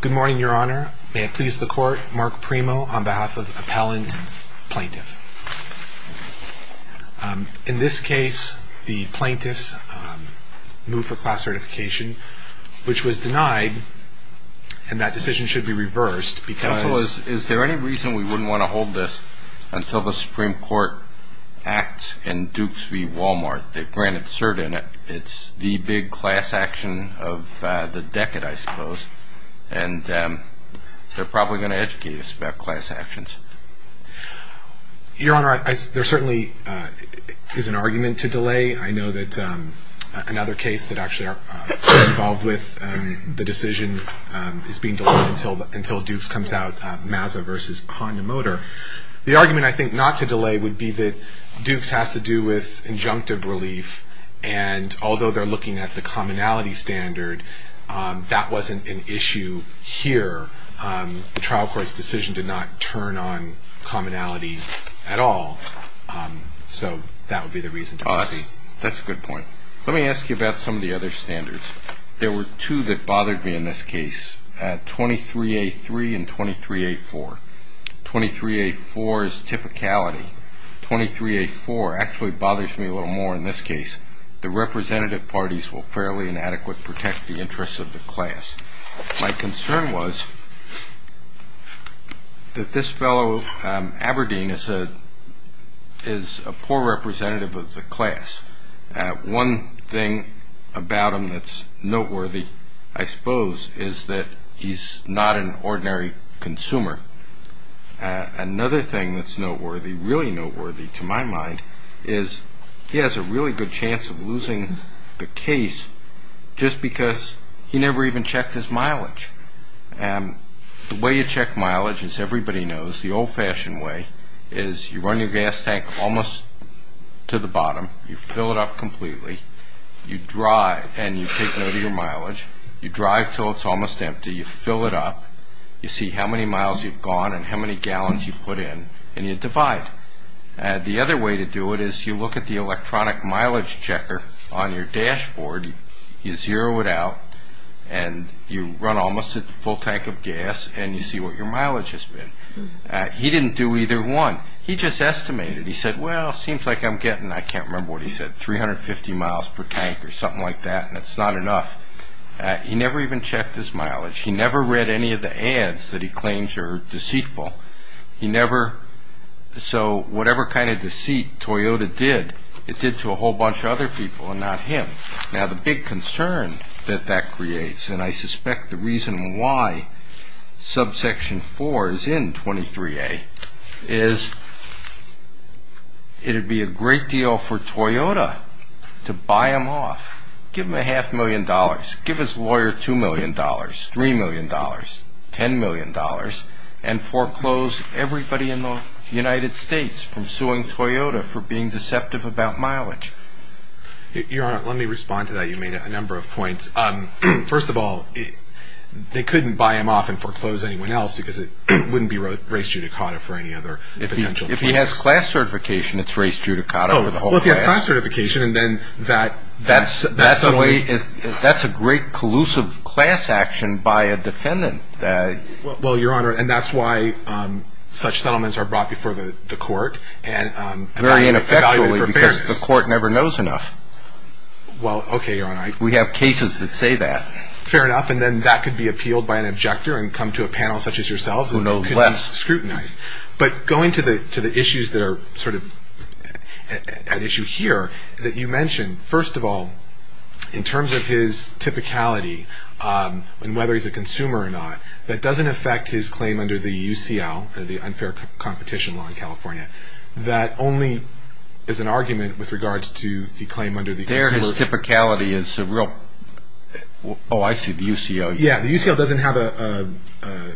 Good morning, Your Honor. May it please the Court, Mark Primo on behalf of Appellant Plaintiff. In this case, the plaintiffs moved for class certification, which was denied, and that decision should be reversed because... Counsel, is there any reason we wouldn't want to hold this until the Supreme Court acts in Dukes v. Wal-Mart? They've granted cert in it. It's the big class action of the decade, I suppose. And they're probably going to educate us about class actions. Your Honor, there certainly is an argument to delay. I know that another case that actually I'm involved with, the decision is being delayed until Dukes comes out, Mazza v. Konya Motor. The argument, I think, not to delay would be that Dukes has to do with injunctive relief, and although they're looking at the commonality standard, that wasn't an issue here. The trial court's decision did not turn on commonality at all, so that would be the reason to proceed. That's a good point. Let me ask you about some of the other standards. There were two that bothered me in this case, 23A3 and 23A4. 23A4 is typicality. 23A4 actually bothers me a little more in this case. The representative parties will fairly and adequately protect the interests of the class. My concern was that this fellow, Aberdeen, is a poor representative of the class. One thing about him that's noteworthy, I suppose, is that he's not an ordinary consumer. Another thing that's noteworthy, really noteworthy to my mind, is he has a really good chance of losing the case just because he never even checked his mileage. The way you check mileage, as everybody knows, the old-fashioned way, is you run your gas tank almost to the bottom, you fill it up completely, you drive and you take note of your mileage, you drive until it's almost empty, you fill it up, you see how many miles you've gone and how many gallons you've put in, and you divide. The other way to do it is you look at the electronic mileage checker on your dashboard, you zero it out, and you run almost at the full tank of gas, and you see what your mileage has been. He didn't do either one. He just estimated. He said, well, it seems like I'm getting, I can't remember what he said, 350 miles per tank or something like that, and it's not enough. He never even checked his mileage. He never read any of the ads that he claims are deceitful. So whatever kind of deceit Toyota did, it did to a whole bunch of other people and not him. Now, the big concern that that creates, and I suspect the reason why subsection 4 is in 23A, is it would be a great deal for Toyota to buy him off, give him a half million dollars, give his lawyer two million dollars, three million dollars, ten million dollars, and foreclose everybody in the United States from suing Toyota for being deceptive about mileage. Your Honor, let me respond to that. You made a number of points. First of all, they couldn't buy him off and foreclose anyone else, because it wouldn't be race judicata for any other potential clients. If he has class certification, it's race judicata for the whole class. Oh, well, if he has class certification, and then that's a way. That's a great collusive class action by a defendant. Well, Your Honor, and that's why such settlements are brought before the court and evaluated for fairness. Because the court never knows enough. Well, okay, Your Honor. We have cases that say that. Fair enough, and then that could be appealed by an objector and come to a panel such as yourselves, and it could be scrutinized. But going to the issues that are sort of at issue here, that you mentioned, first of all, in terms of his typicality and whether he's a consumer or not, that doesn't affect his claim under the UCL, the unfair competition law in California. That only is an argument with regards to the claim under the consumer. There, his typicality is a real, oh, I see, the UCL. Yeah, the UCL doesn't have a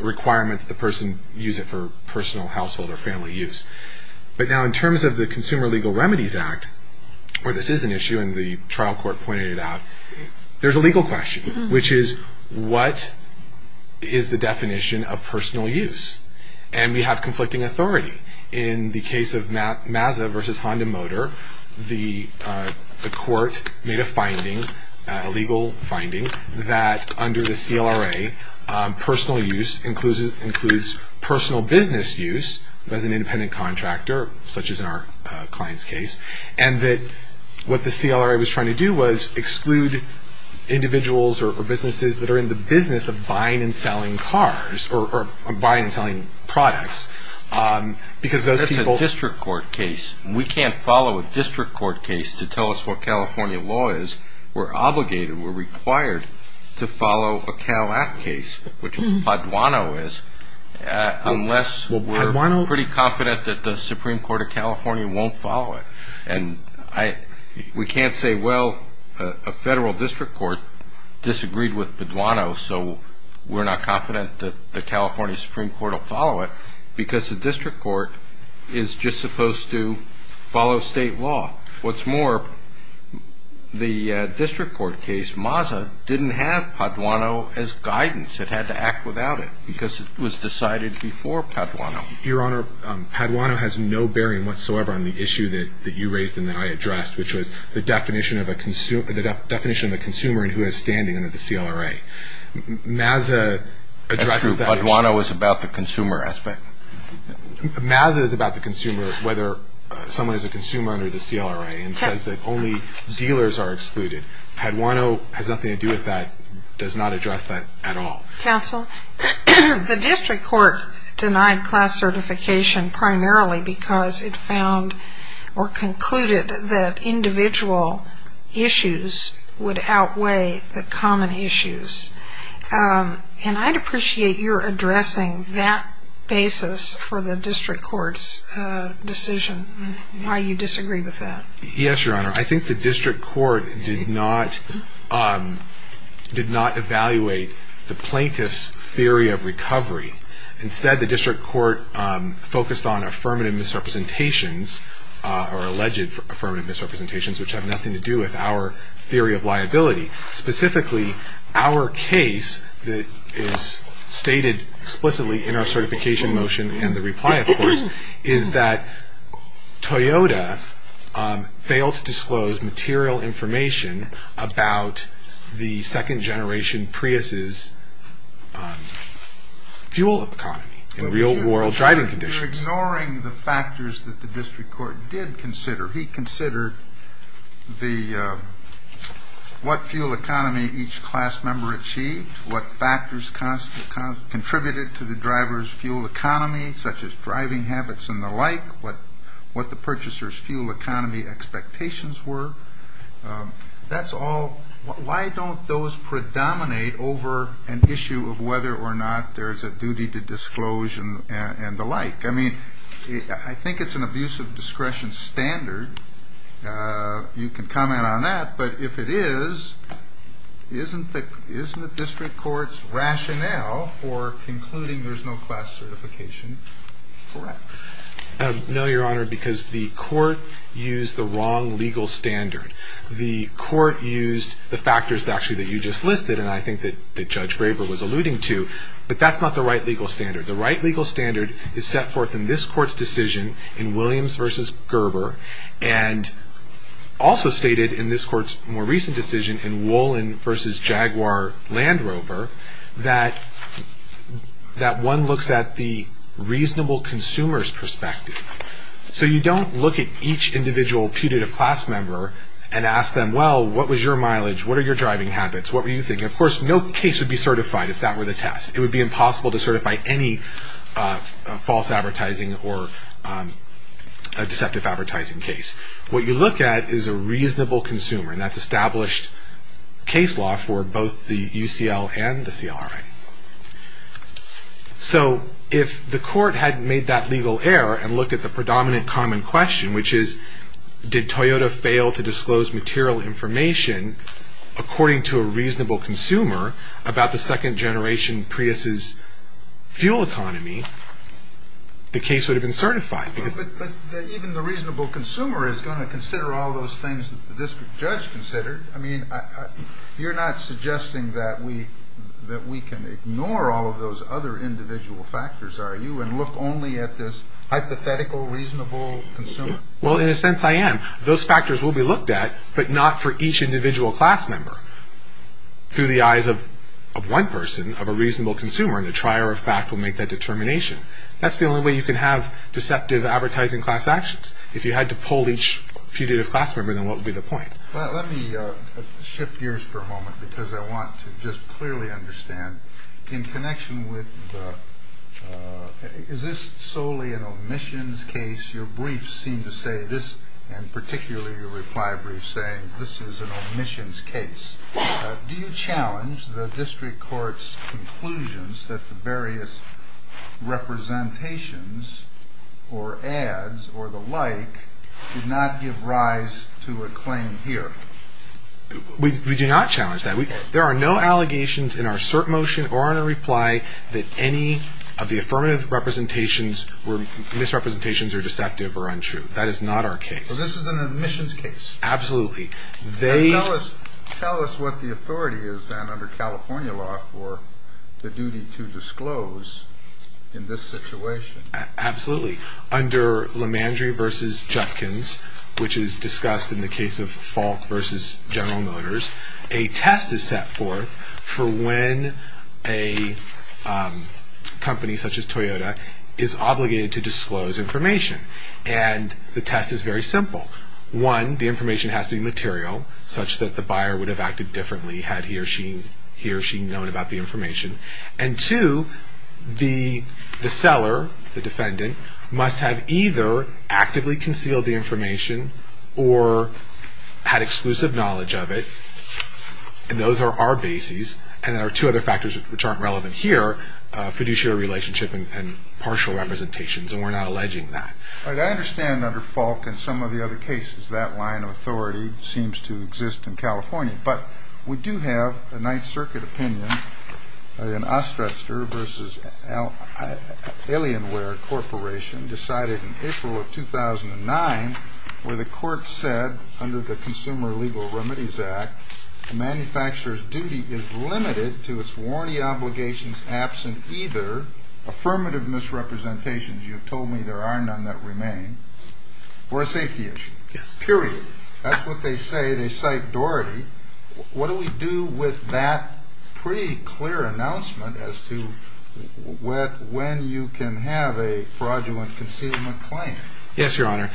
requirement that the person use it for personal, household, or family use. But now in terms of the Consumer Legal Remedies Act, where this is an issue, and the trial court pointed it out, there's a legal question, which is what is the definition of personal use? And we have conflicting authority. In the case of Mazda versus Honda Motor, the court made a finding, a legal finding, that under the CLRA, personal use includes personal business use as an independent contractor, such as in our client's case, and that what the CLRA was trying to do was exclude individuals or businesses that are in the business of buying and selling cars or buying and selling products. That's a district court case. We can't follow a district court case to tell us what California law is. We're obligated, we're required to follow a Cal Act case, which Paduano is, unless we're pretty confident that the Supreme Court of California won't follow it. We can't say, well, a federal district court disagreed with Paduano, so we're not confident that the California Supreme Court will follow it, because the district court is just supposed to follow state law. What's more, the district court case, Mazda, didn't have Paduano as guidance. It had to act without it because it was decided before Paduano. Your Honor, Paduano has no bearing whatsoever on the issue that you raised and that I addressed, which was the definition of a consumer and who is standing under the CLRA. Mazda addresses that issue. Paduano is about the consumer aspect. Mazda is about the consumer, whether someone is a consumer under the CLRA and says that only dealers are excluded. Paduano has nothing to do with that, does not address that at all. Counsel, the district court denied class certification primarily because it found or concluded that individual issues would outweigh the common issues. And I'd appreciate your addressing that basis for the district court's decision, why you disagree with that. Yes, Your Honor. I think the district court did not evaluate the plaintiff's theory of recovery. Instead, the district court focused on affirmative misrepresentations or alleged affirmative misrepresentations, which have nothing to do with our theory of liability. Specifically, our case that is stated explicitly in our certification motion and the reply, of course, is that Toyota failed to disclose material information about the second-generation Prius's fuel economy and real-world driving conditions. You're ignoring the factors that the district court did consider. He considered what fuel economy each class member achieved, what factors contributed to the driver's fuel economy, such as driving habits and the like, what the purchaser's fuel economy expectations were. That's all. Why don't those predominate over an issue of whether or not there is a duty to disclose and the like? I mean, I think it's an abusive discretion standard. You can comment on that. But if it is, isn't the district court's rationale for concluding there's no class certification correct? No, Your Honor, because the court used the wrong legal standard. The court used the factors, actually, that you just listed and I think that Judge Graber was alluding to, but that's not the right legal standard. The right legal standard is set forth in this court's decision in Williams v. Gerber and also stated in this court's more recent decision in Wolin v. Jaguar Land Rover that one looks at the reasonable consumer's perspective. So you don't look at each individual putative class member and ask them, well, what was your mileage? What are your driving habits? What were you thinking? Of course, no case would be certified if that were the test. It would be impossible to certify any false advertising or deceptive advertising case. What you look at is a reasonable consumer, and that's established case law for both the UCL and the CLRI. So if the court hadn't made that legal error and looked at the predominant common question, which is did Toyota fail to disclose material information according to a reasonable consumer about the second-generation Prius's fuel economy, the case would have been certified. But even the reasonable consumer is going to consider all those things that the district judge considered. I mean, you're not suggesting that we can ignore all of those other individual factors, are you, and look only at this hypothetical reasonable consumer? Well, in a sense, I am. Those factors will be looked at, but not for each individual class member. Through the eyes of one person, of a reasonable consumer, the trier of fact will make that determination. That's the only way you can have deceptive advertising class actions. If you had to poll each putative class member, then what would be the point? Well, let me shift gears for a moment because I want to just clearly understand, in connection with the, is this solely an omissions case? Your briefs seem to say this, and particularly your reply brief, saying this is an omissions case. Do you challenge the district court's conclusions that the various representations or ads or the like did not give rise to a claim here? We do not challenge that. There are no allegations in our cert motion or in our reply that any of the affirmative representations or misrepresentations are deceptive or untrue. That is not our case. Well, this is an omissions case. Absolutely. Tell us what the authority is then under California law for the duty to disclose in this situation. Absolutely. Under Lemandry v. Judkins, which is discussed in the case of Falk v. General Motors, a test is set forth for when a company such as Toyota is obligated to disclose information. And the test is very simple. One, the information has to be material such that the buyer would have acted differently had he or she known about the information. And two, the seller, the defendant, must have either actively concealed the information or had exclusive knowledge of it. And those are our bases. And there are two other factors which aren't relevant here, fiduciary relationship and partial representations. And we're not alleging that. All right. I understand under Falk and some of the other cases that line of authority seems to exist in California. But we do have a Ninth Circuit opinion, an Osterster v. Alienware Corporation decided in April of 2009 where the court said under the Consumer Legal Remedies Act, a manufacturer's duty is limited to its warranty obligations absent either affirmative misrepresentations, you have told me there are none that remain, or a safety issue. Yes. Period. That's what they say. They cite Doherty. What do we do with that pretty clear announcement as to when you can have a fraudulent concealment claim? Yes, Your Honor.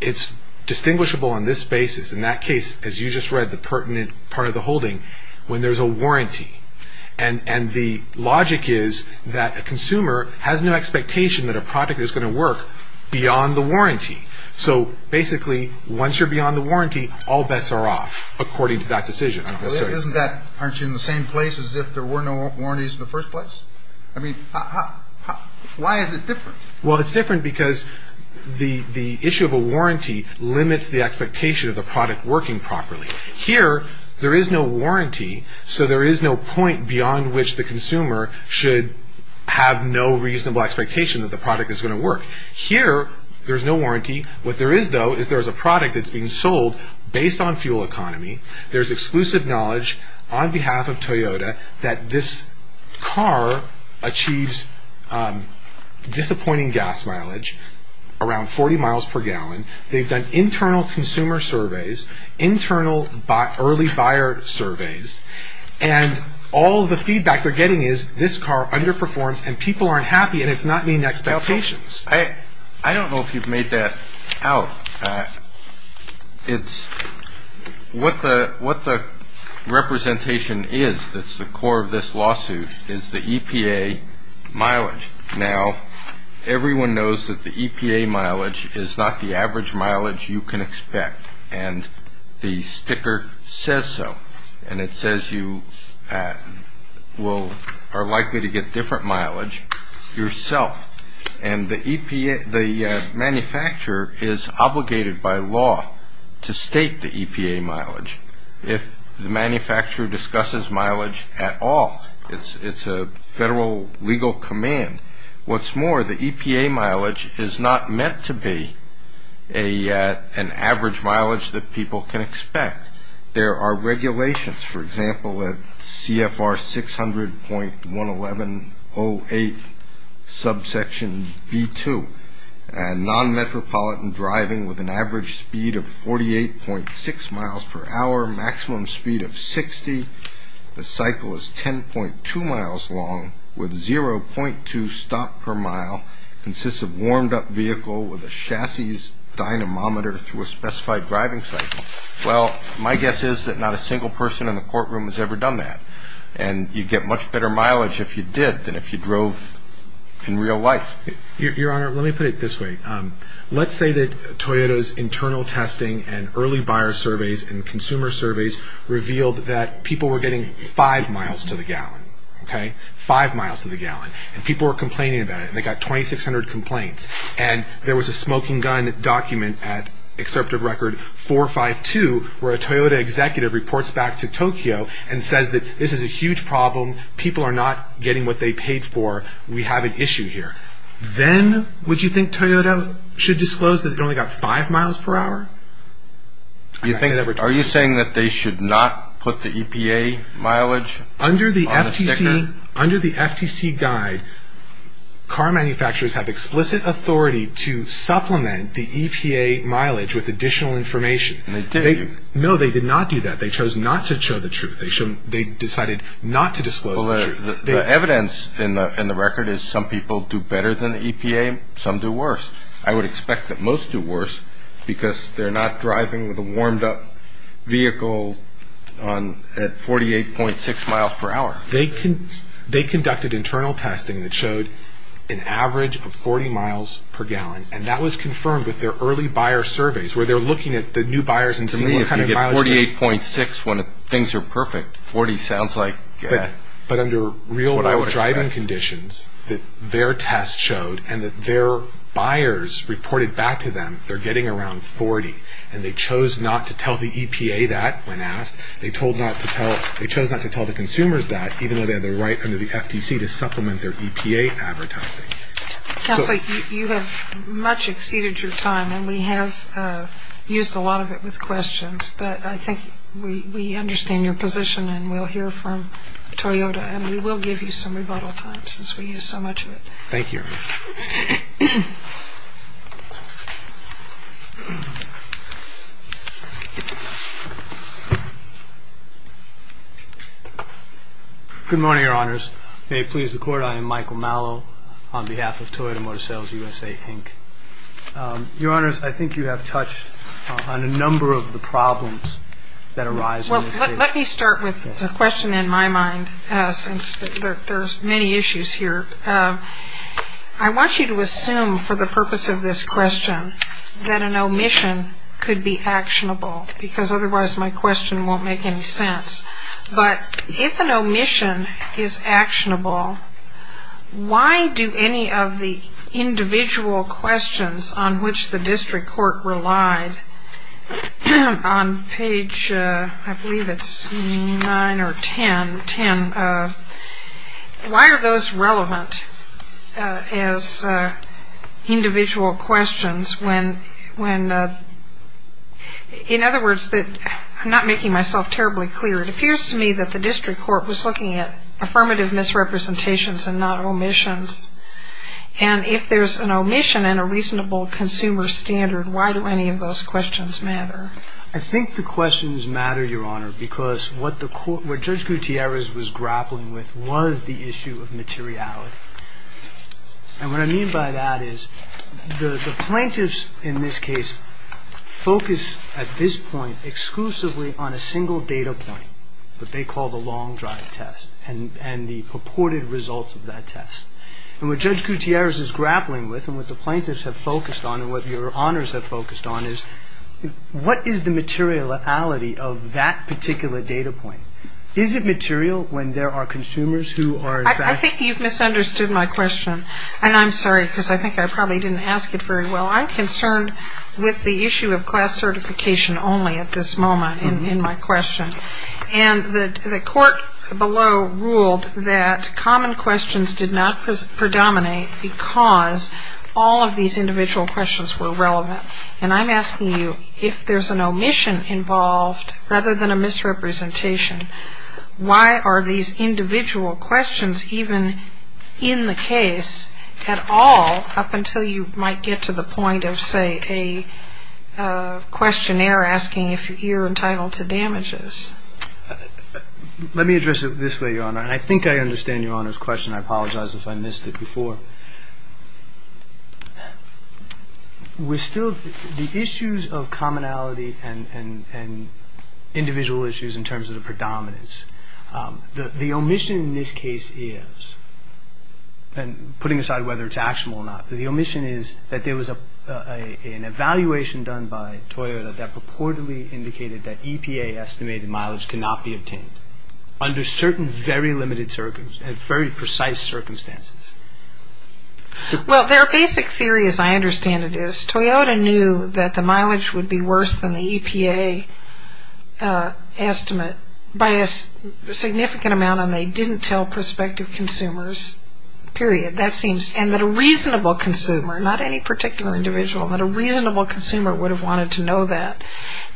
It's distinguishable on this basis. In that case, as you just read, the pertinent part of the holding when there's a warranty. And the logic is that a consumer has no expectation that a product is going to work beyond the warranty. So basically, once you're beyond the warranty, all bets are off according to that decision. Isn't that, aren't you in the same place as if there were no warranties in the first place? I mean, why is it different? Well, it's different because the issue of a warranty limits the expectation of the product working properly. Here, there is no warranty, so there is no point beyond which the consumer should have no reasonable expectation that the product is going to work. Here, there's no warranty. What there is, though, is there's a product that's being sold based on fuel economy. There's exclusive knowledge on behalf of Toyota that this car achieves disappointing gas mileage, around 40 miles per gallon. They've done internal consumer surveys, internal early buyer surveys, and all the feedback they're getting is this car underperforms and people aren't happy and it's not meeting expectations. I don't know if you've made that out. What the representation is that's the core of this lawsuit is the EPA mileage. Now, everyone knows that the EPA mileage is not the average mileage you can expect, and the sticker says so, and it says you are likely to get different mileage yourself. And the manufacturer is obligated by law to state the EPA mileage. If the manufacturer discusses mileage at all, it's a federal legal command. What's more, the EPA mileage is not meant to be an average mileage that people can expect. There are regulations, for example, at CFR 600.1108 subsection B2, and non-metropolitan driving with an average speed of 48.6 miles per hour, maximum speed of 60, the cycle is 10.2 miles long with 0.2 stop per mile, consists of warmed up vehicle with a chassis dynamometer through a specified driving cycle. Well, my guess is that not a single person in the courtroom has ever done that, and you'd get much better mileage if you did than if you drove in real life. Your Honor, let me put it this way. Let's say that Toyota's internal testing and early buyer surveys and consumer surveys revealed that people were getting five miles to the gallon, okay, five miles to the gallon, and people were complaining about it, and they got 2,600 complaints, and there was a smoking gun document at Excerptive Record 452 where a Toyota executive reports back to Tokyo and says that this is a huge problem, people are not getting what they paid for, we have an issue here. Then would you think Toyota should disclose that it only got five miles per hour? Are you saying that they should not put the EPA mileage on the sticker? Under the FTC guide, car manufacturers have explicit authority to supplement the EPA mileage with additional information. And they did. No, they did not do that. They chose not to show the truth. They decided not to disclose the truth. The evidence in the record is some people do better than the EPA, some do worse. I would expect that most do worse because they're not driving with a warmed up vehicle at 48.6 miles per hour. They conducted internal testing that showed an average of 40 miles per gallon, and that was confirmed with their early buyer surveys, where they're looking at the new buyers and seeing what kind of mileage they're getting. To me, if you get 48.6 when things are perfect, 40 sounds like what I would expect. But under real driving conditions, their tests showed and their buyers reported back to them they're getting around 40, and they chose not to tell the EPA that when asked. They chose not to tell the consumers that, even though they had the right under the FTC to supplement their EPA advertising. Counselor, you have much exceeded your time, and we have used a lot of it with questions. But I think we understand your position, and we'll hear from Toyota, and we will give you some rebuttal time since we used so much of it. Thank you. Good morning, Your Honors. May it please the Court, I am Michael Mallow on behalf of Toyota Motor Sales USA, Inc. Your Honors, I think you have touched on a number of the problems that arise in this case. Well, let me start with a question in my mind, since there are many issues here. I want you to assume for the purpose of this question that an omission could be actionable, because otherwise my question won't make any sense. But if an omission is actionable, why do any of the individual questions on which the district court relied on page, I believe it's 9 or 10, why are those relevant as individual questions when, in other words, I'm not making myself terribly clear, it appears to me that the district court was looking at affirmative misrepresentations and not omissions. And if there's an omission and a reasonable consumer standard, why do any of those questions matter? I think the questions matter, Your Honor, because what Judge Gutierrez was grappling with was the issue of materiality. And what I mean by that is the plaintiffs in this case focus at this point exclusively on a single data point, what they call the long drive test and the purported results of that test. And what Judge Gutierrez is grappling with and what the plaintiffs have focused on and what Your Honors have focused on is what is the materiality of that particular data point? Is it material when there are consumers who are in fact ‑‑ I think you've misunderstood my question. And I'm sorry, because I think I probably didn't ask it very well. I'm concerned with the issue of class certification only at this moment in my question. And the court below ruled that common questions did not predominate because all of these individual questions were relevant. And I'm asking you if there's an omission involved rather than a misrepresentation, why are these individual questions even in the case at all up until you might get to the point of, say, a questionnaire asking if you're entitled to damages? Let me address it this way, Your Honor. And I think I understand Your Honor's question. I apologize if I missed it before. With still the issues of commonality and individual issues in terms of the predominance, the omission in this case is, and putting aside whether it's actionable or not, the omission is that there was an evaluation done by Toyota that purportedly indicated that EPA estimated mileage cannot be obtained under certain very limited circumstances, very precise circumstances. Well, their basic theory, as I understand it, is Toyota knew that the mileage would be worse than the EPA estimate by a significant amount, and they didn't tell prospective consumers, period. And that a reasonable consumer, not any particular individual, but a reasonable consumer would have wanted to know that.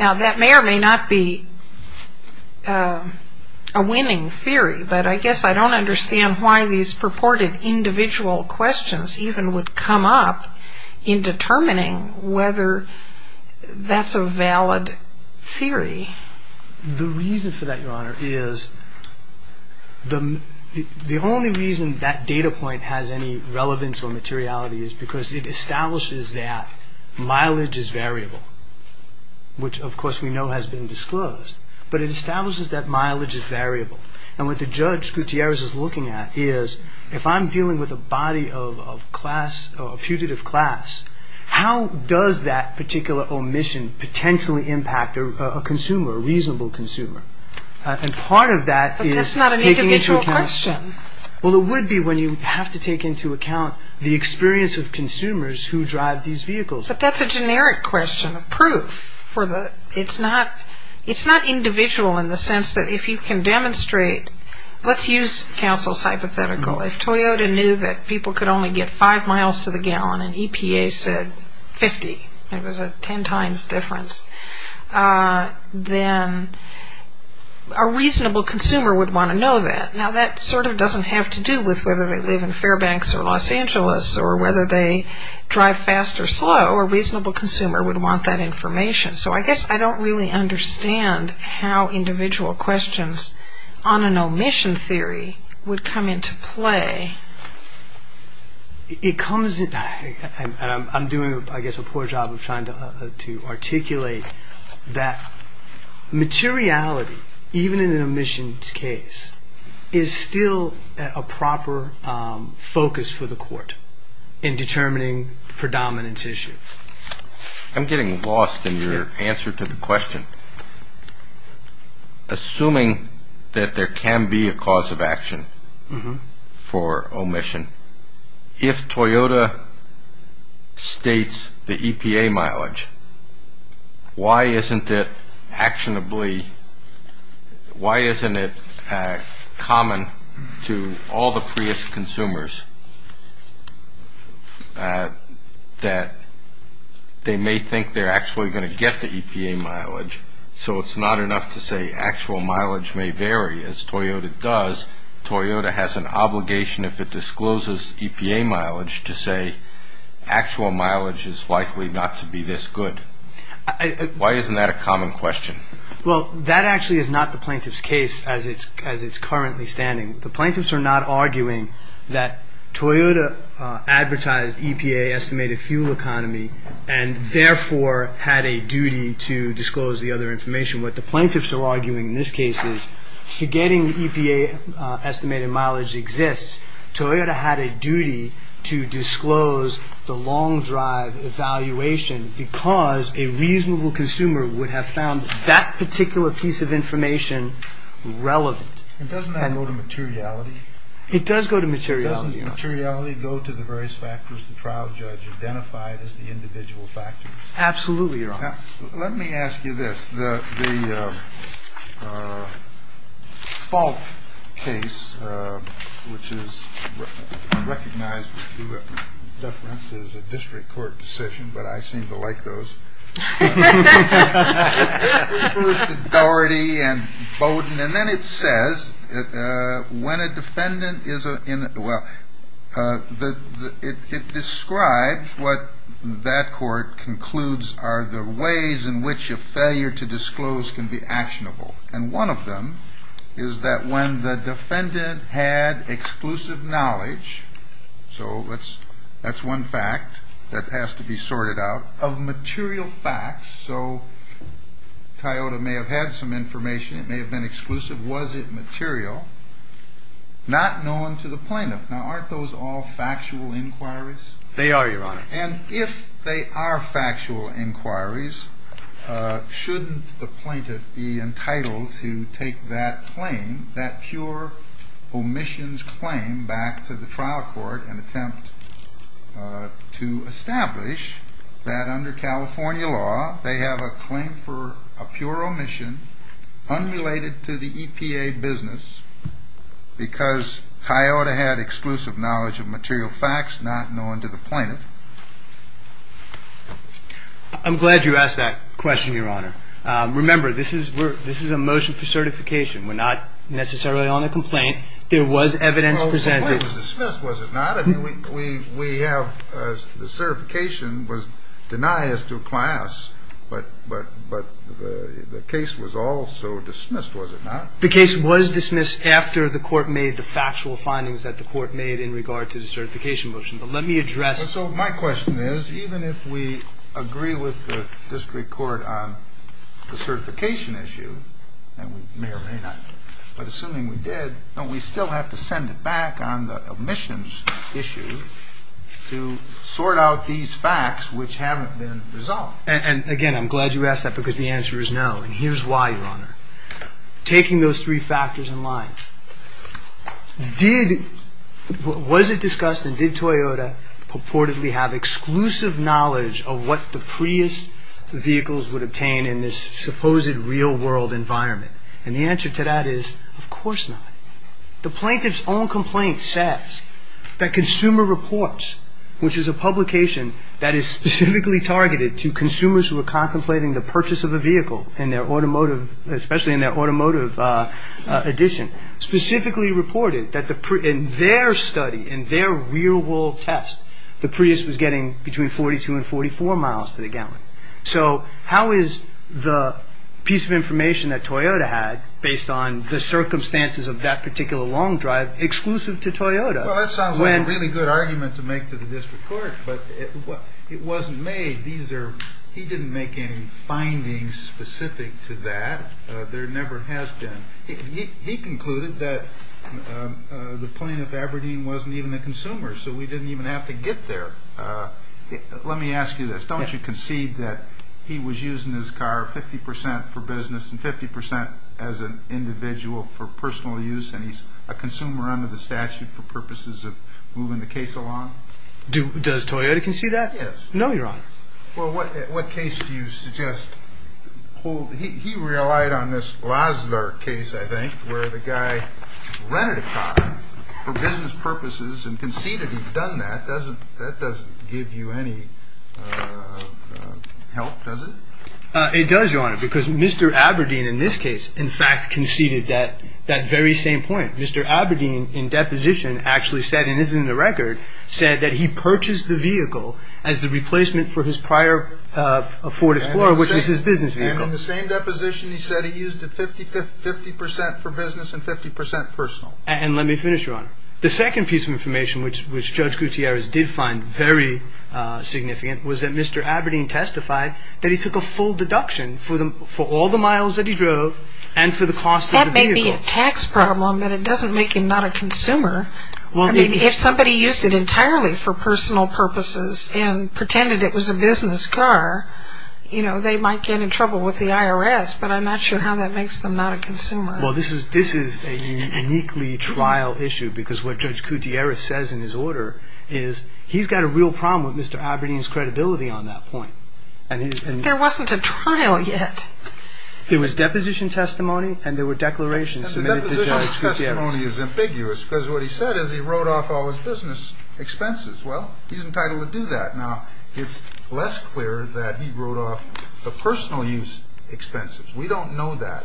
Now, that may or may not be a winning theory, but I guess I don't understand why these purported individual questions even would come up in determining whether that's a valid theory. The reason for that, Your Honor, is the only reason that data point has any relevance or materiality is because it establishes that mileage is variable, which of course we know has been disclosed. But it establishes that mileage is variable. And what the Judge Gutierrez is looking at is if I'm dealing with a body of class, a putative class, how does that particular omission potentially impact a consumer, a reasonable consumer? And part of that is taking into account... But that's not an individual question. Well, it would be when you have to take into account the experience of consumers who drive these vehicles. But that's a generic question, a proof. It's not individual in the sense that if you can demonstrate, let's use counsel's hypothetical. If Toyota knew that people could only get five miles to the gallon and EPA said 50, it was a ten times difference, then a reasonable consumer would want to know that. Now that sort of doesn't have to do with whether they live in Fairbanks or Los Angeles or whether they drive fast or slow. A reasonable consumer would want that information. So I guess I don't really understand how individual questions on an omission theory would come into play. I'm doing, I guess, a poor job of trying to articulate that materiality, even in an omission case, is still a proper focus for the court in determining predominance issues. I'm getting lost in your answer to the question. Assuming that there can be a cause of action for omission, if Toyota states the EPA mileage, why isn't it actionably, why isn't it common to all the Prius consumers that they may think they're actually going to get the EPA mileage, so it's not enough to say actual mileage may vary. As Toyota does, Toyota has an obligation if it discloses EPA mileage to say actual mileage is likely not to be this good. Why isn't that a common question? Well, that actually is not the plaintiff's case as it's currently standing. The plaintiffs are not arguing that Toyota advertised EPA estimated fuel economy and therefore had a duty to disclose the other information. What the plaintiffs are arguing in this case is forgetting the EPA estimated mileage exists, Toyota had a duty to disclose the long drive evaluation because a reasonable consumer would have found that particular piece of information relevant. And doesn't that go to materiality? It does go to materiality, Your Honor. Doesn't materiality go to the various factors the trial judge identified as the individual factors? Absolutely, Your Honor. Now, let me ask you this. The Falk case, which is recognized with due reference as a district court decision, but I seem to like those. Dority and Bowden. And then it says when a defendant is in, well, it describes what that court concludes are the ways in which a failure to disclose can be actionable. And one of them is that when the defendant had exclusive knowledge, so that's one fact that has to be sorted out. Of material facts, so Toyota may have had some information, it may have been exclusive. Was it material? Not known to the plaintiff. Now, aren't those all factual inquiries? They are, Your Honor. And if they are factual inquiries, shouldn't the plaintiff be entitled to take that claim, that pure omissions claim, back to the trial court and attempt to establish that under California law they have a claim for a pure omission unrelated to the EPA business because Toyota had exclusive knowledge of material facts not known to the plaintiff? I'm glad you asked that question, Your Honor. Remember, this is a motion for certification. We're not necessarily on a complaint. There was evidence presented. Well, the complaint was dismissed, was it not? I mean, we have the certification was denied as to class, but the case was also dismissed, was it not? The case was dismissed after the court made the factual findings that the court made in regard to the certification motion. But let me address. So my question is, even if we agree with the district court on the certification issue, and we may or may not, but assuming we did, don't we still have to send it back on the omissions issue to sort out these facts which haven't been resolved? And, again, I'm glad you asked that because the answer is no. And here's why, Your Honor. Taking those three factors in line, was it discussed and did Toyota purportedly have exclusive knowledge of what the Prius vehicles would obtain in this supposed real-world environment? And the answer to that is, of course not. The plaintiff's own complaint says that Consumer Reports, which is a publication that is specifically targeted to consumers who are contemplating the purchase of a vehicle, especially in their automotive edition, specifically reported that in their study, in their real-world test, the Prius was getting between 42 and 44 miles to the gallon. So how is the piece of information that Toyota had, based on the circumstances of that particular long drive, exclusive to Toyota? Well, that sounds like a really good argument to make to the district court, but it wasn't made. He didn't make any findings specific to that. There never has been. He concluded that the plaintiff, Aberdeen, wasn't even a consumer, so we didn't even have to get there. Let me ask you this. Don't you concede that he was using his car 50% for business and 50% as an individual for personal use, and he's a consumer under the statute for purposes of moving the case along? Does Toyota concede that? Yes. No, Your Honor. Well, what case do you suggest? He relied on this Laszlo case, I think, where the guy rented a car for business purposes and conceded he'd done that. That doesn't give you any help, does it? It does, Your Honor, because Mr. Aberdeen in this case, in fact, conceded that very same point. Mr. Aberdeen, in deposition, actually said, and this is in the record, said that he purchased the vehicle as the replacement for his prior Ford Explorer, which was his business vehicle. And in the same deposition, he said he used it 50% for business and 50% personal. And let me finish, Your Honor. The second piece of information which Judge Gutierrez did find very significant was that Mr. Aberdeen testified that he took a full deduction for all the miles that he drove and for the cost of the vehicle. That may be a tax problem, but it doesn't make him not a consumer. If somebody used it entirely for personal purposes and pretended it was a business car, they might get in trouble with the IRS, but I'm not sure how that makes them not a consumer. Well, this is a uniquely trial issue because what Judge Gutierrez says in his order is he's got a real problem with Mr. Aberdeen's credibility on that point. There wasn't a trial yet. There was deposition testimony and there were declarations submitted to Judge Gutierrez. And the deposition testimony is ambiguous because what he said is he wrote off all his business expenses. Well, he's entitled to do that. Now, it's less clear that he wrote off the personal use expenses. We don't know that,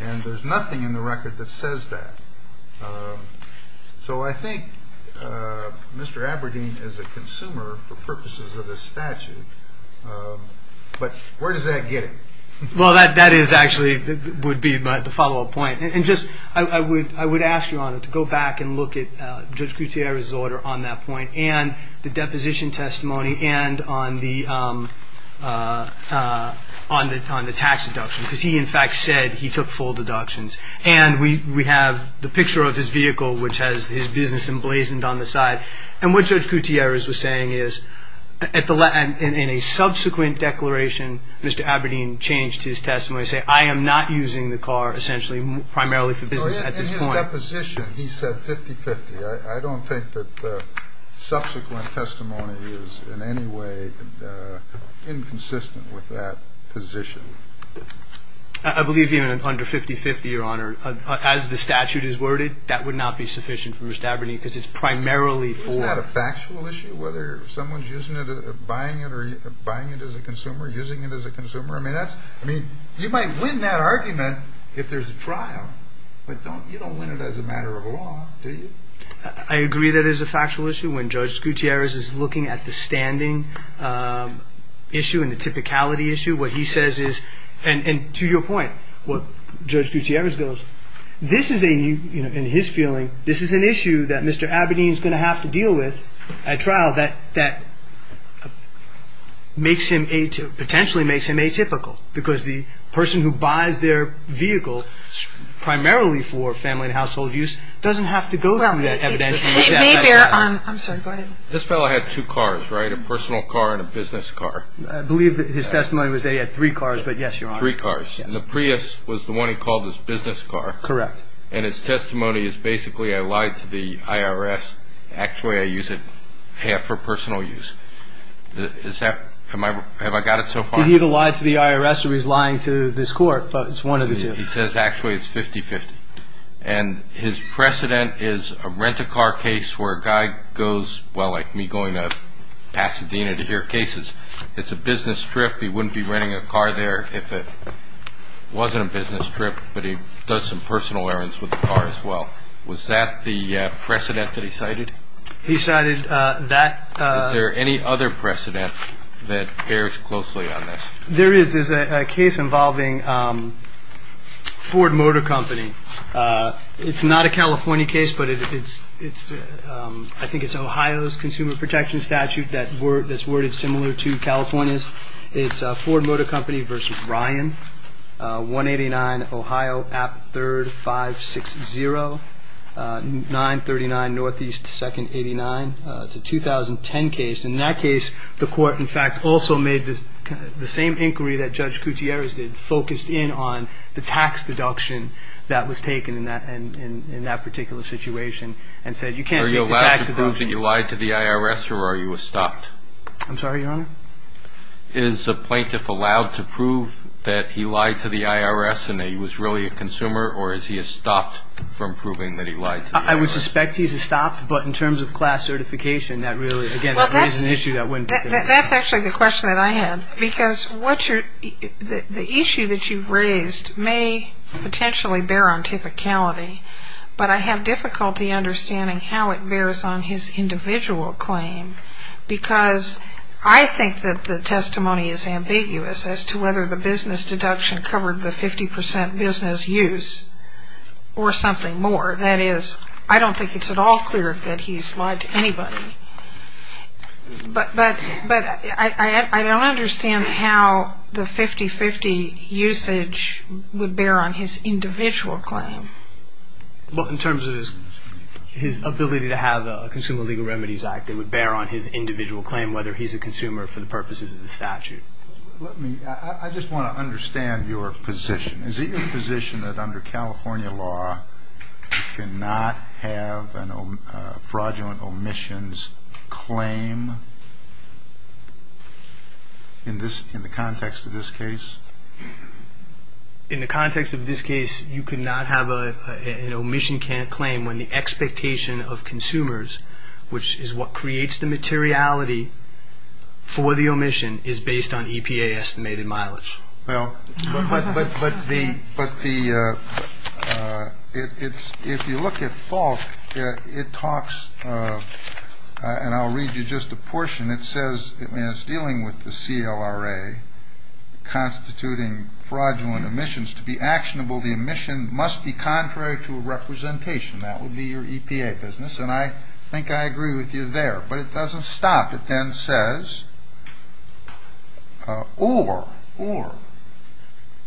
and there's nothing in the record that says that. So I think Mr. Aberdeen is a consumer for purposes of this statute. But where does that get him? Well, that is actually would be the follow-up point. And just I would ask you, Your Honor, to go back and look at Judge Gutierrez's order on that point and the deposition testimony and on the tax deduction because he, in fact, said he took full deductions. And we have the picture of his vehicle, which has his business emblazoned on the side. And what Judge Gutierrez was saying is in a subsequent declaration, Mr. Aberdeen changed his testimony, saying, I am not using the car essentially primarily for business at this point. In the deposition, he said 50-50. I don't think that the subsequent testimony is in any way inconsistent with that position. I believe he meant under 50-50, Your Honor. As the statute is worded, that would not be sufficient for Mr. Aberdeen because it's primarily for. Isn't that a factual issue, whether someone's using it or buying it or buying it as a consumer, using it as a consumer? I mean, you might win that argument if there's a trial, but you don't win it as a matter of law, do you? I agree that is a factual issue. When Judge Gutierrez is looking at the standing issue and the typicality issue, what he says is, and to your point, what Judge Gutierrez goes, this is a, in his feeling, this is an issue that Mr. Aberdeen is going to have to deal with at trial that potentially makes him atypical because the person who buys their vehicle primarily for family and household use doesn't have to go through that evidence. This fellow had two cars, right, a personal car and a business car. I believe his testimony was that he had three cars, but yes, Your Honor. Three cars. And the Prius was the one he called his business car. Correct. And his testimony is basically, I lied to the IRS. Actually, I use it half for personal use. Is that, have I got it so far? Did he either lie to the IRS or he's lying to this court? It's one of the two. He says actually it's 50-50. And his precedent is a rental car case where a guy goes, well, like me going to Pasadena to hear cases. It's a business trip. He wouldn't be renting a car there if it wasn't a business trip. But he does some personal errands with the car as well. Was that the precedent that he cited? He cited that. Is there any other precedent that bears closely on this? There is. There's a case involving Ford Motor Company. It's not a California case, but I think it's Ohio's consumer protection statute that's worded similar to California's. It's Ford Motor Company v. Ryan, 189 Ohio App 3rd 560, 939 Northeast 2nd 89. It's a 2010 case. In that case, the court, in fact, also made the same inquiry that Judge Gutierrez did, focused in on the tax deduction that was taken in that particular situation and said you can't take the tax deduction. Are you allowed to prove that you lied to the IRS or are you stopped? I'm sorry, Your Honor? Is the plaintiff allowed to prove that he lied to the IRS and that he was really a consumer or is he stopped from proving that he lied to the IRS? I would suspect he's stopped, but in terms of class certification, that really, again, that raises an issue that wouldn't be fair. That's actually the question that I had because the issue that you've raised may potentially bear on typicality, but I have difficulty understanding how it bears on his individual claim because I think that the testimony is ambiguous as to whether the business deduction covered the 50% business use or something more. That is, I don't think it's at all clear that he's lied to anybody, but I don't understand how the 50-50 usage would bear on his individual claim. Well, in terms of his ability to have a Consumer Legal Remedies Act, it would bear on his individual claim whether he's a consumer for the purposes of the statute. I just want to understand your position. Is it your position that under California law, you cannot have a fraudulent omissions claim in the context of this case? In the context of this case, you cannot have an omission claim when the expectation of consumers, which is what creates the materiality for the omission, is based on EPA-estimated mileage. But if you look at Falk, it talks, and I'll read you just a portion. It says it's dealing with the CLRA constituting fraudulent omissions. To be actionable, the omission must be contrary to a representation. That would be your EPA business, and I think I agree with you there, but it doesn't stop. It then says, or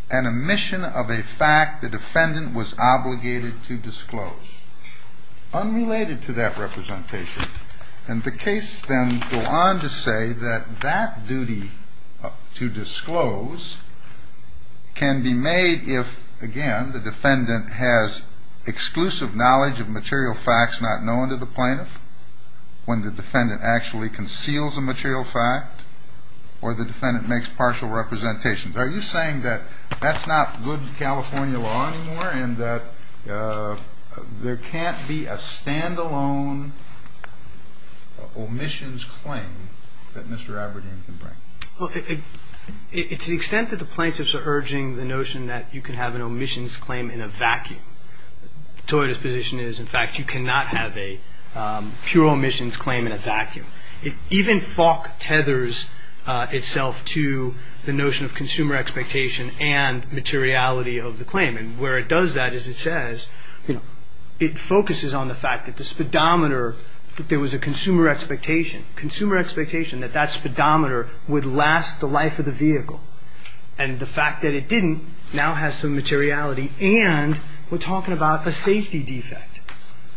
an omission of a fact the defendant was obligated to disclose, unrelated to that representation. And the case then goes on to say that that duty to disclose can be made if, again, the defendant has exclusive knowledge of material facts not known to the plaintiff. When the defendant actually conceals a material fact or the defendant makes partial representations. Are you saying that that's not good California law anymore and that there can't be a stand-alone omissions claim that Mr. Aberdeen can bring? Well, it's the extent that the plaintiffs are urging the notion that you can have an omissions claim in a vacuum. Toyota's position is, in fact, you cannot have a pure omissions claim in a vacuum. Even Falk tethers itself to the notion of consumer expectation and materiality of the claim. And where it does that is it says, you know, it focuses on the fact that the speedometer, that there was a consumer expectation, consumer expectation that that speedometer would last the life of the vehicle. And the fact that it didn't now has some materiality. And we're talking about a safety defect,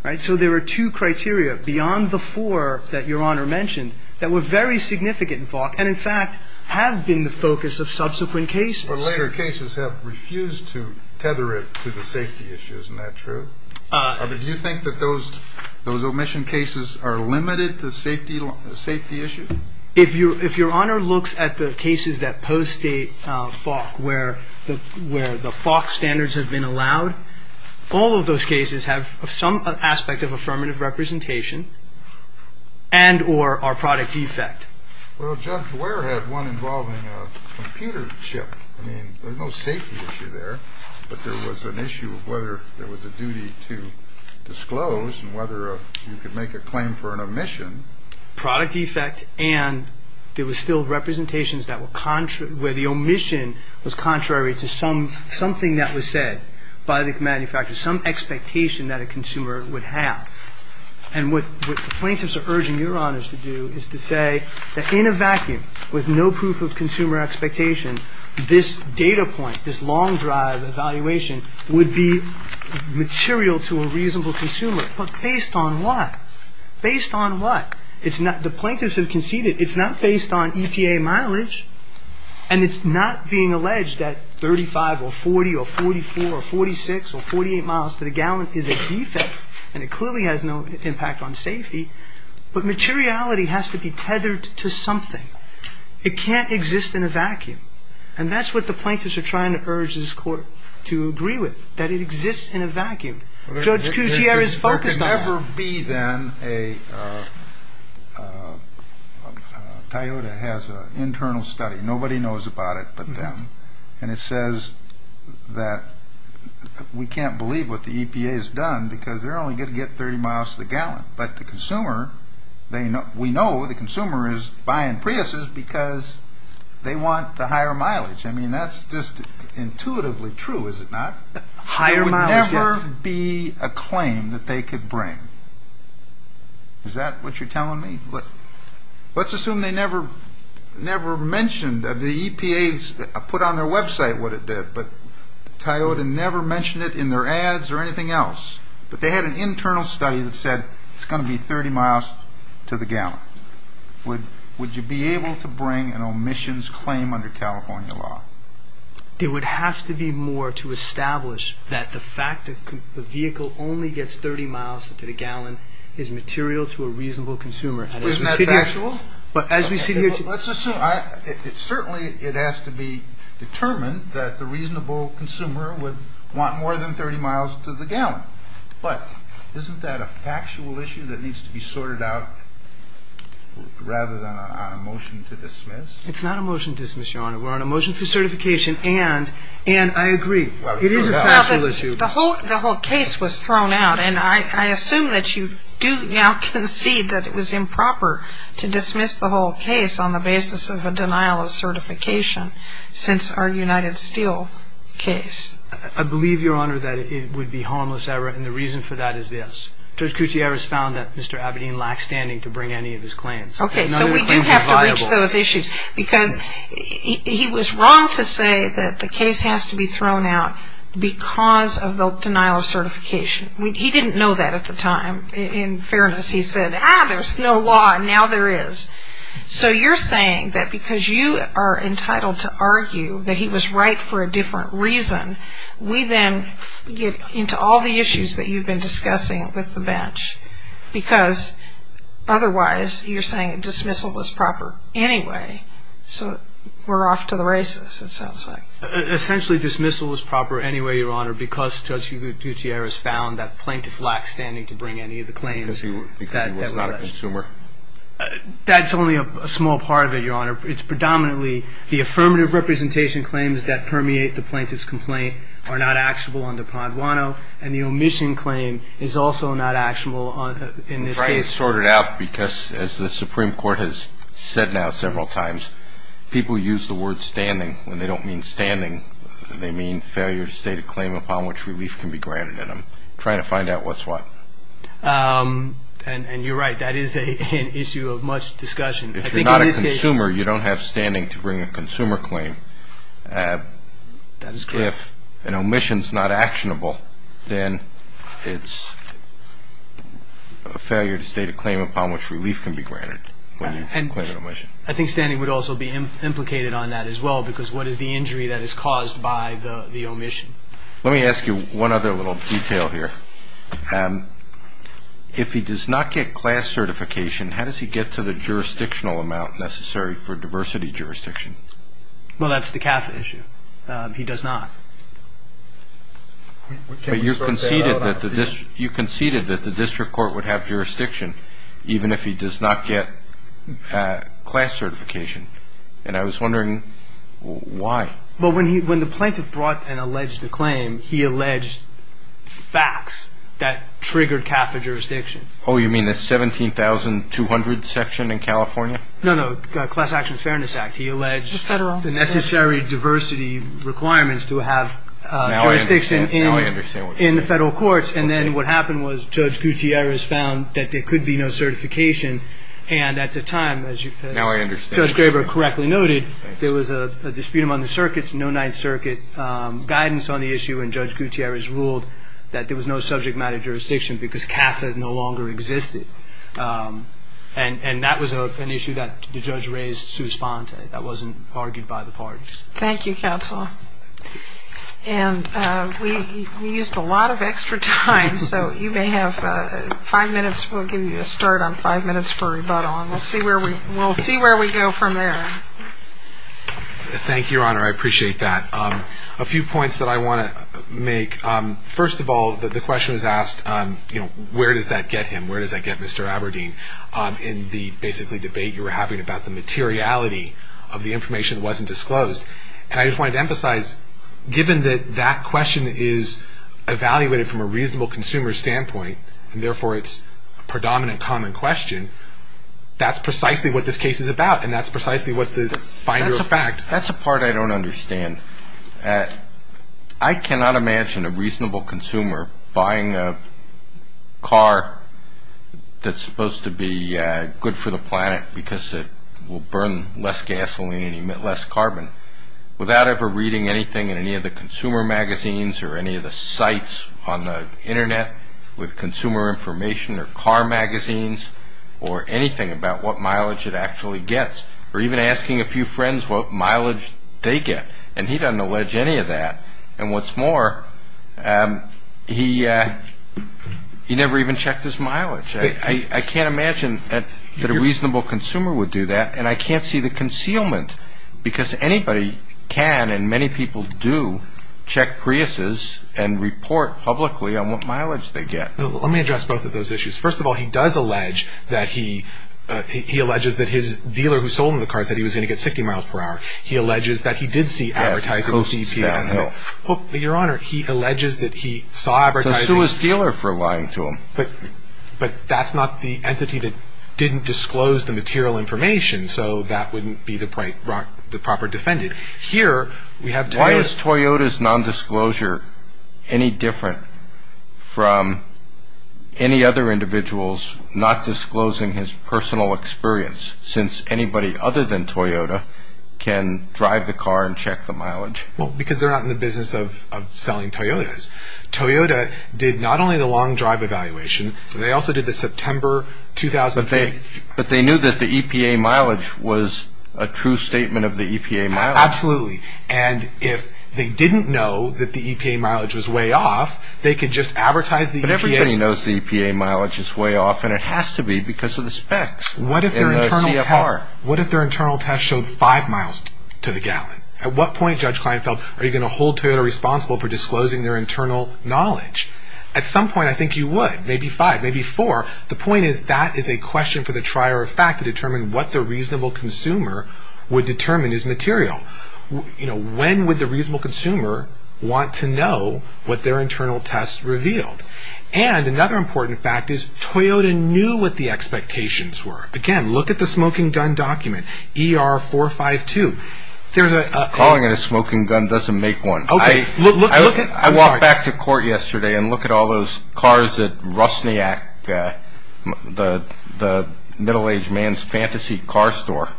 right? So there are two criteria beyond the four that Your Honor mentioned that were very significant in Falk and, in fact, have been the focus of subsequent cases. But later cases have refused to tether it to the safety issues. Isn't that true? Do you think that those omission cases are limited to safety issues? If Your Honor looks at the cases that post-date Falk where the Falk standards have been allowed, all of those cases have some aspect of affirmative representation and or are product defect. Well, Judge Ware had one involving a computer chip. I mean, there's no safety issue there. But there was an issue of whether there was a duty to disclose and whether you could make a claim for an omission. Product defect and there was still representations where the omission was contrary to something that was said by the manufacturer, some expectation that a consumer would have. And what plaintiffs are urging Your Honors to do is to say that in a vacuum with no proof of consumer expectation, this data point, this long drive evaluation would be material to a reasonable consumer. But based on what? Based on what? The plaintiffs have conceded it's not based on EPA mileage and it's not being alleged that 35 or 40 or 44 or 46 or 48 miles to the gallon is a defect and it clearly has no impact on safety. But materiality has to be tethered to something. It can't exist in a vacuum. And that's what the plaintiffs are trying to urge this Court to agree with, that it exists in a vacuum. Judge Coutier is focused on that. There can never be then a... Toyota has an internal study. Nobody knows about it but them. And it says that we can't believe what the EPA has done because they're only going to get 30 miles to the gallon. But the consumer, we know the consumer is buying Priuses because they want the higher mileage. I mean, that's just intuitively true, is it not? Higher mileage, yes. There would never be a claim that they could bring. Is that what you're telling me? Let's assume they never mentioned that the EPA put on their website what it did, but Toyota never mentioned it in their ads or anything else. But they had an internal study that said it's going to be 30 miles to the gallon. Would you be able to bring an omissions claim under California law? There would have to be more to establish that the fact that the vehicle only gets 30 miles to the gallon is material to a reasonable consumer. Isn't that factual? But as we sit here today... Let's assume. Certainly it has to be determined that the reasonable consumer would want more than 30 miles to the gallon. But isn't that a factual issue that needs to be sorted out rather than on a motion to dismiss? It's not a motion to dismiss, Your Honor. We're on a motion for certification, and I agree. It is a factual issue. The whole case was thrown out, and I assume that you do now concede that it was improper to dismiss the whole case on the basis of a denial of certification since our United Steel case. I believe, Your Honor, that it would be harmless error, and the reason for that is this. Judge Gutierrez found that Mr. Abedin lacked standing to bring any of his claims. Okay, so we do have to reach those issues. Because he was wrong to say that the case has to be thrown out because of the denial of certification. He didn't know that at the time. In fairness, he said, ah, there's no law, and now there is. So you're saying that because you are entitled to argue that he was right for a different reason, we then get into all the issues that you've been discussing with the bench. Because otherwise you're saying dismissal was proper anyway. So we're off to the races, it sounds like. Essentially dismissal was proper anyway, Your Honor, because Judge Gutierrez found that plaintiff lacked standing to bring any of the claims. Because he was not a consumer. That's only a small part of it, Your Honor. It's predominantly the affirmative representation claims that permeate the plaintiff's complaint are not actionable under Pondwano, and the omission claim is also not actionable in this case. I'm trying to sort it out because, as the Supreme Court has said now several times, people use the word standing when they don't mean standing. They mean failure to state a claim upon which relief can be granted. And I'm trying to find out what's what. And you're right, that is an issue of much discussion. If you're not a consumer, you don't have standing to bring a consumer claim. If an omission is not actionable, then it's a failure to state a claim upon which relief can be granted when you claim an omission. I think standing would also be implicated on that as well because what is the injury that is caused by the omission? Let me ask you one other little detail here. If he does not get class certification, how does he get to the jurisdictional amount necessary for diversity jurisdiction? Well, that's the CAFA issue. He does not. But you conceded that the district court would have jurisdiction even if he does not get class certification. And I was wondering why. Well, when the plaintiff brought and alleged the claim, he alleged facts that triggered CAFA jurisdiction. Oh, you mean the 17,200 section in California? No, no, the Class Action Fairness Act. He alleged the necessary diversity requirements to have jurisdiction in the federal courts. And then what happened was Judge Gutierrez found that there could be no certification. And at the time, as Judge Graber correctly noted, there was a dispute among the circuits, no Ninth Circuit guidance on the issue, and Judge Gutierrez ruled that there was no subject matter jurisdiction because CAFA no longer existed. And that was an issue that the judge raised sui sponte. That wasn't argued by the parties. Thank you, counsel. And we used a lot of extra time, so you may have five minutes. We'll give you a start on five minutes for rebuttal, and we'll see where we go from there. Thank you, Your Honor. I appreciate that. A few points that I want to make. First of all, the question was asked, you know, where does that get him? Where does that get Mr. Aberdeen in the, basically, debate you were having about the materiality of the information that wasn't disclosed? And I just wanted to emphasize, given that that question is evaluated from a reasonable consumer standpoint, and therefore it's a predominant common question, that's precisely what this case is about, and that's precisely what the finder of fact. That's a part I don't understand. I cannot imagine a reasonable consumer buying a car that's supposed to be good for the planet because it will burn less gasoline and emit less carbon without ever reading anything in any of the consumer magazines or any of the sites on the Internet with consumer information or car magazines or anything about what mileage it actually gets, or even asking a few friends what mileage they get. And he doesn't allege any of that. And what's more, he never even checked his mileage. I can't imagine that a reasonable consumer would do that, and I can't see the concealment because anybody can and many people do check Priuses and report publicly on what mileage they get. Let me address both of those issues. First of all, he does allege that he, he alleges that his dealer who sold him the car said he was going to get 60 miles per hour. He alleges that he did see advertising on CPS. Your Honor, he alleges that he saw advertising. So sue his dealer for lying to him. But that's not the entity that didn't disclose the material information, so that wouldn't be the proper defendant. Here we have Toyota. Why is Toyota's nondisclosure any different from any other individual's not disclosing his personal experience, since anybody other than Toyota can drive the car and check the mileage? Well, because they're not in the business of selling Toyotas. Toyota did not only the long drive evaluation, they also did the September 2008. But they knew that the EPA mileage was a true statement of the EPA mileage. Absolutely. And if they didn't know that the EPA mileage was way off, they could just advertise the EPA. But everybody knows the EPA mileage is way off, and it has to be because of the specs. What if their internal test showed five miles to the gallon? At what point, Judge Kleinfeld, are you going to hold Toyota responsible for disclosing their internal knowledge? At some point, I think you would. Maybe five, maybe four. The point is that is a question for the trier of fact to determine what the reasonable consumer would determine is material. When would the reasonable consumer want to know what their internal test revealed? And another important fact is Toyota knew what the expectations were. Again, look at the smoking gun document, ER452. Calling it a smoking gun doesn't make one. I walked back to court yesterday, and look at all those cars at Rusniak, the middle-aged man's fantasy car store,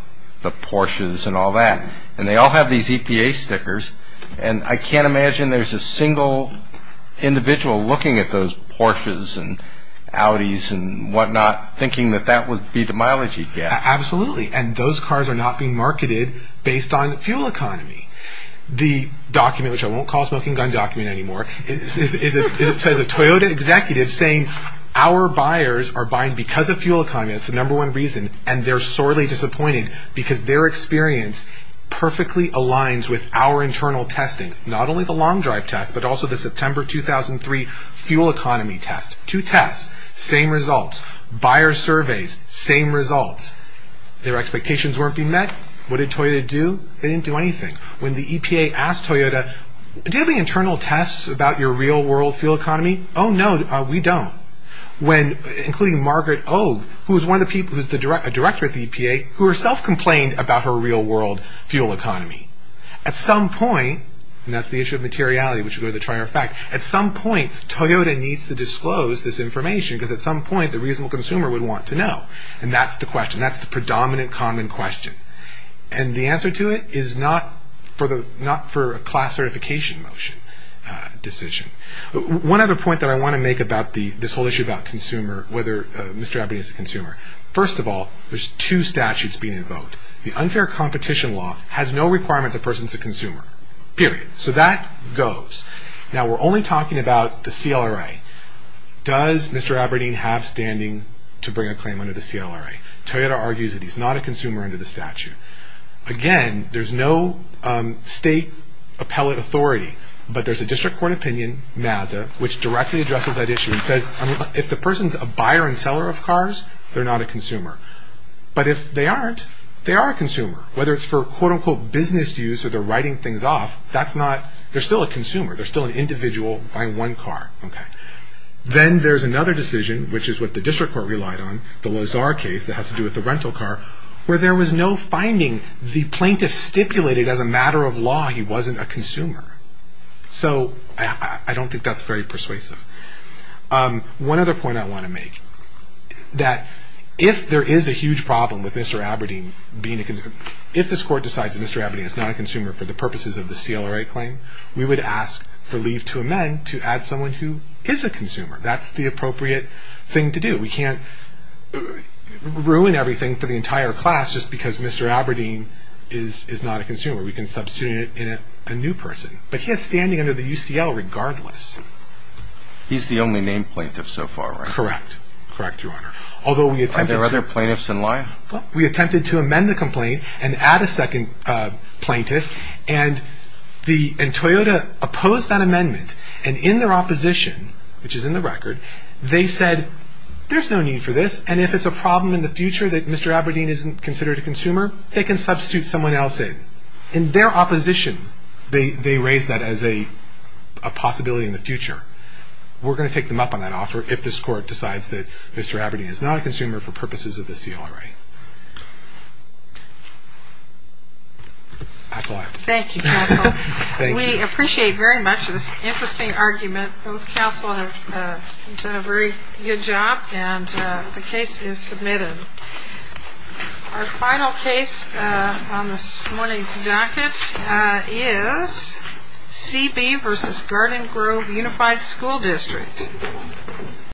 the Porsches and all that. And they all have these EPA stickers. And I can't imagine there's a single individual looking at those Porsches and Audis and whatnot thinking that that would be the mileage you get. Absolutely. And those cars are not being marketed based on fuel economy. The document, which I won't call a smoking gun document anymore, is a Toyota executive saying, our buyers are buying because of fuel economy. That's the number one reason. And they're sorely disappointed because their experience perfectly aligns with our internal testing. Not only the Long Drive test, but also the September 2003 fuel economy test. Two tests, same results. Buyer surveys, same results. Their expectations weren't being met. What did Toyota do? They didn't do anything. When the EPA asked Toyota, do you have any internal tests about your real-world fuel economy? Oh, no, we don't. Including Margaret Ogue, who is a director at the EPA, who herself complained about her real-world fuel economy. At some point, and that's the issue of materiality, which is the trier of fact, at some point Toyota needs to disclose this information because at some point the reasonable consumer would want to know. And that's the question. That's the predominant common question. And the answer to it is not for a class certification motion decision. One other point that I want to make about this whole issue about consumer, whether Mr. Aberdeen is a consumer. First of all, there's two statutes being invoked. The unfair competition law has no requirement the person's a consumer, period. So that goes. Now, we're only talking about the CLRA. Does Mr. Aberdeen have standing to bring a claim under the CLRA? Toyota argues that he's not a consumer under the statute. Again, there's no state appellate authority, but there's a district court opinion, MAZA, which directly addresses that issue. It says if the person's a buyer and seller of cars, they're not a consumer. But if they aren't, they are a consumer. Whether it's for quote-unquote business use or they're writing things off, they're still a consumer. They're still an individual buying one car. Then there's another decision, which is what the district court relied on, the Lazar case that has to do with the rental car, where there was no finding. The plaintiff stipulated as a matter of law he wasn't a consumer. So I don't think that's very persuasive. One other point I want to make, that if there is a huge problem with Mr. Aberdeen being a consumer, if this court decides that Mr. Aberdeen is not a consumer for the purposes of the CLRA claim, we would ask for leave to amend to add someone who is a consumer. That's the appropriate thing to do. We can't ruin everything for the entire class just because Mr. Aberdeen is not a consumer. We can substitute in a new person. But he is standing under the UCL regardless. He's the only named plaintiff so far, right? Correct. Correct, Your Honor. Are there other plaintiffs in line? We attempted to amend the complaint and add a second plaintiff, and Toyota opposed that amendment. In their opposition, which is in the record, they said there's no need for this, and if it's a problem in the future that Mr. Aberdeen isn't considered a consumer, they can substitute someone else in. In their opposition, they raised that as a possibility in the future. We're going to take them up on that offer if this court decides that Mr. Aberdeen is not a consumer for purposes of the CLRA. That's all I have to say. Thank you, counsel. Thank you. We appreciate very much this interesting argument. Both counsel have done a very good job, and the case is submitted. Our final case on this morning's docket is CB v. Garden Grove Unified School District.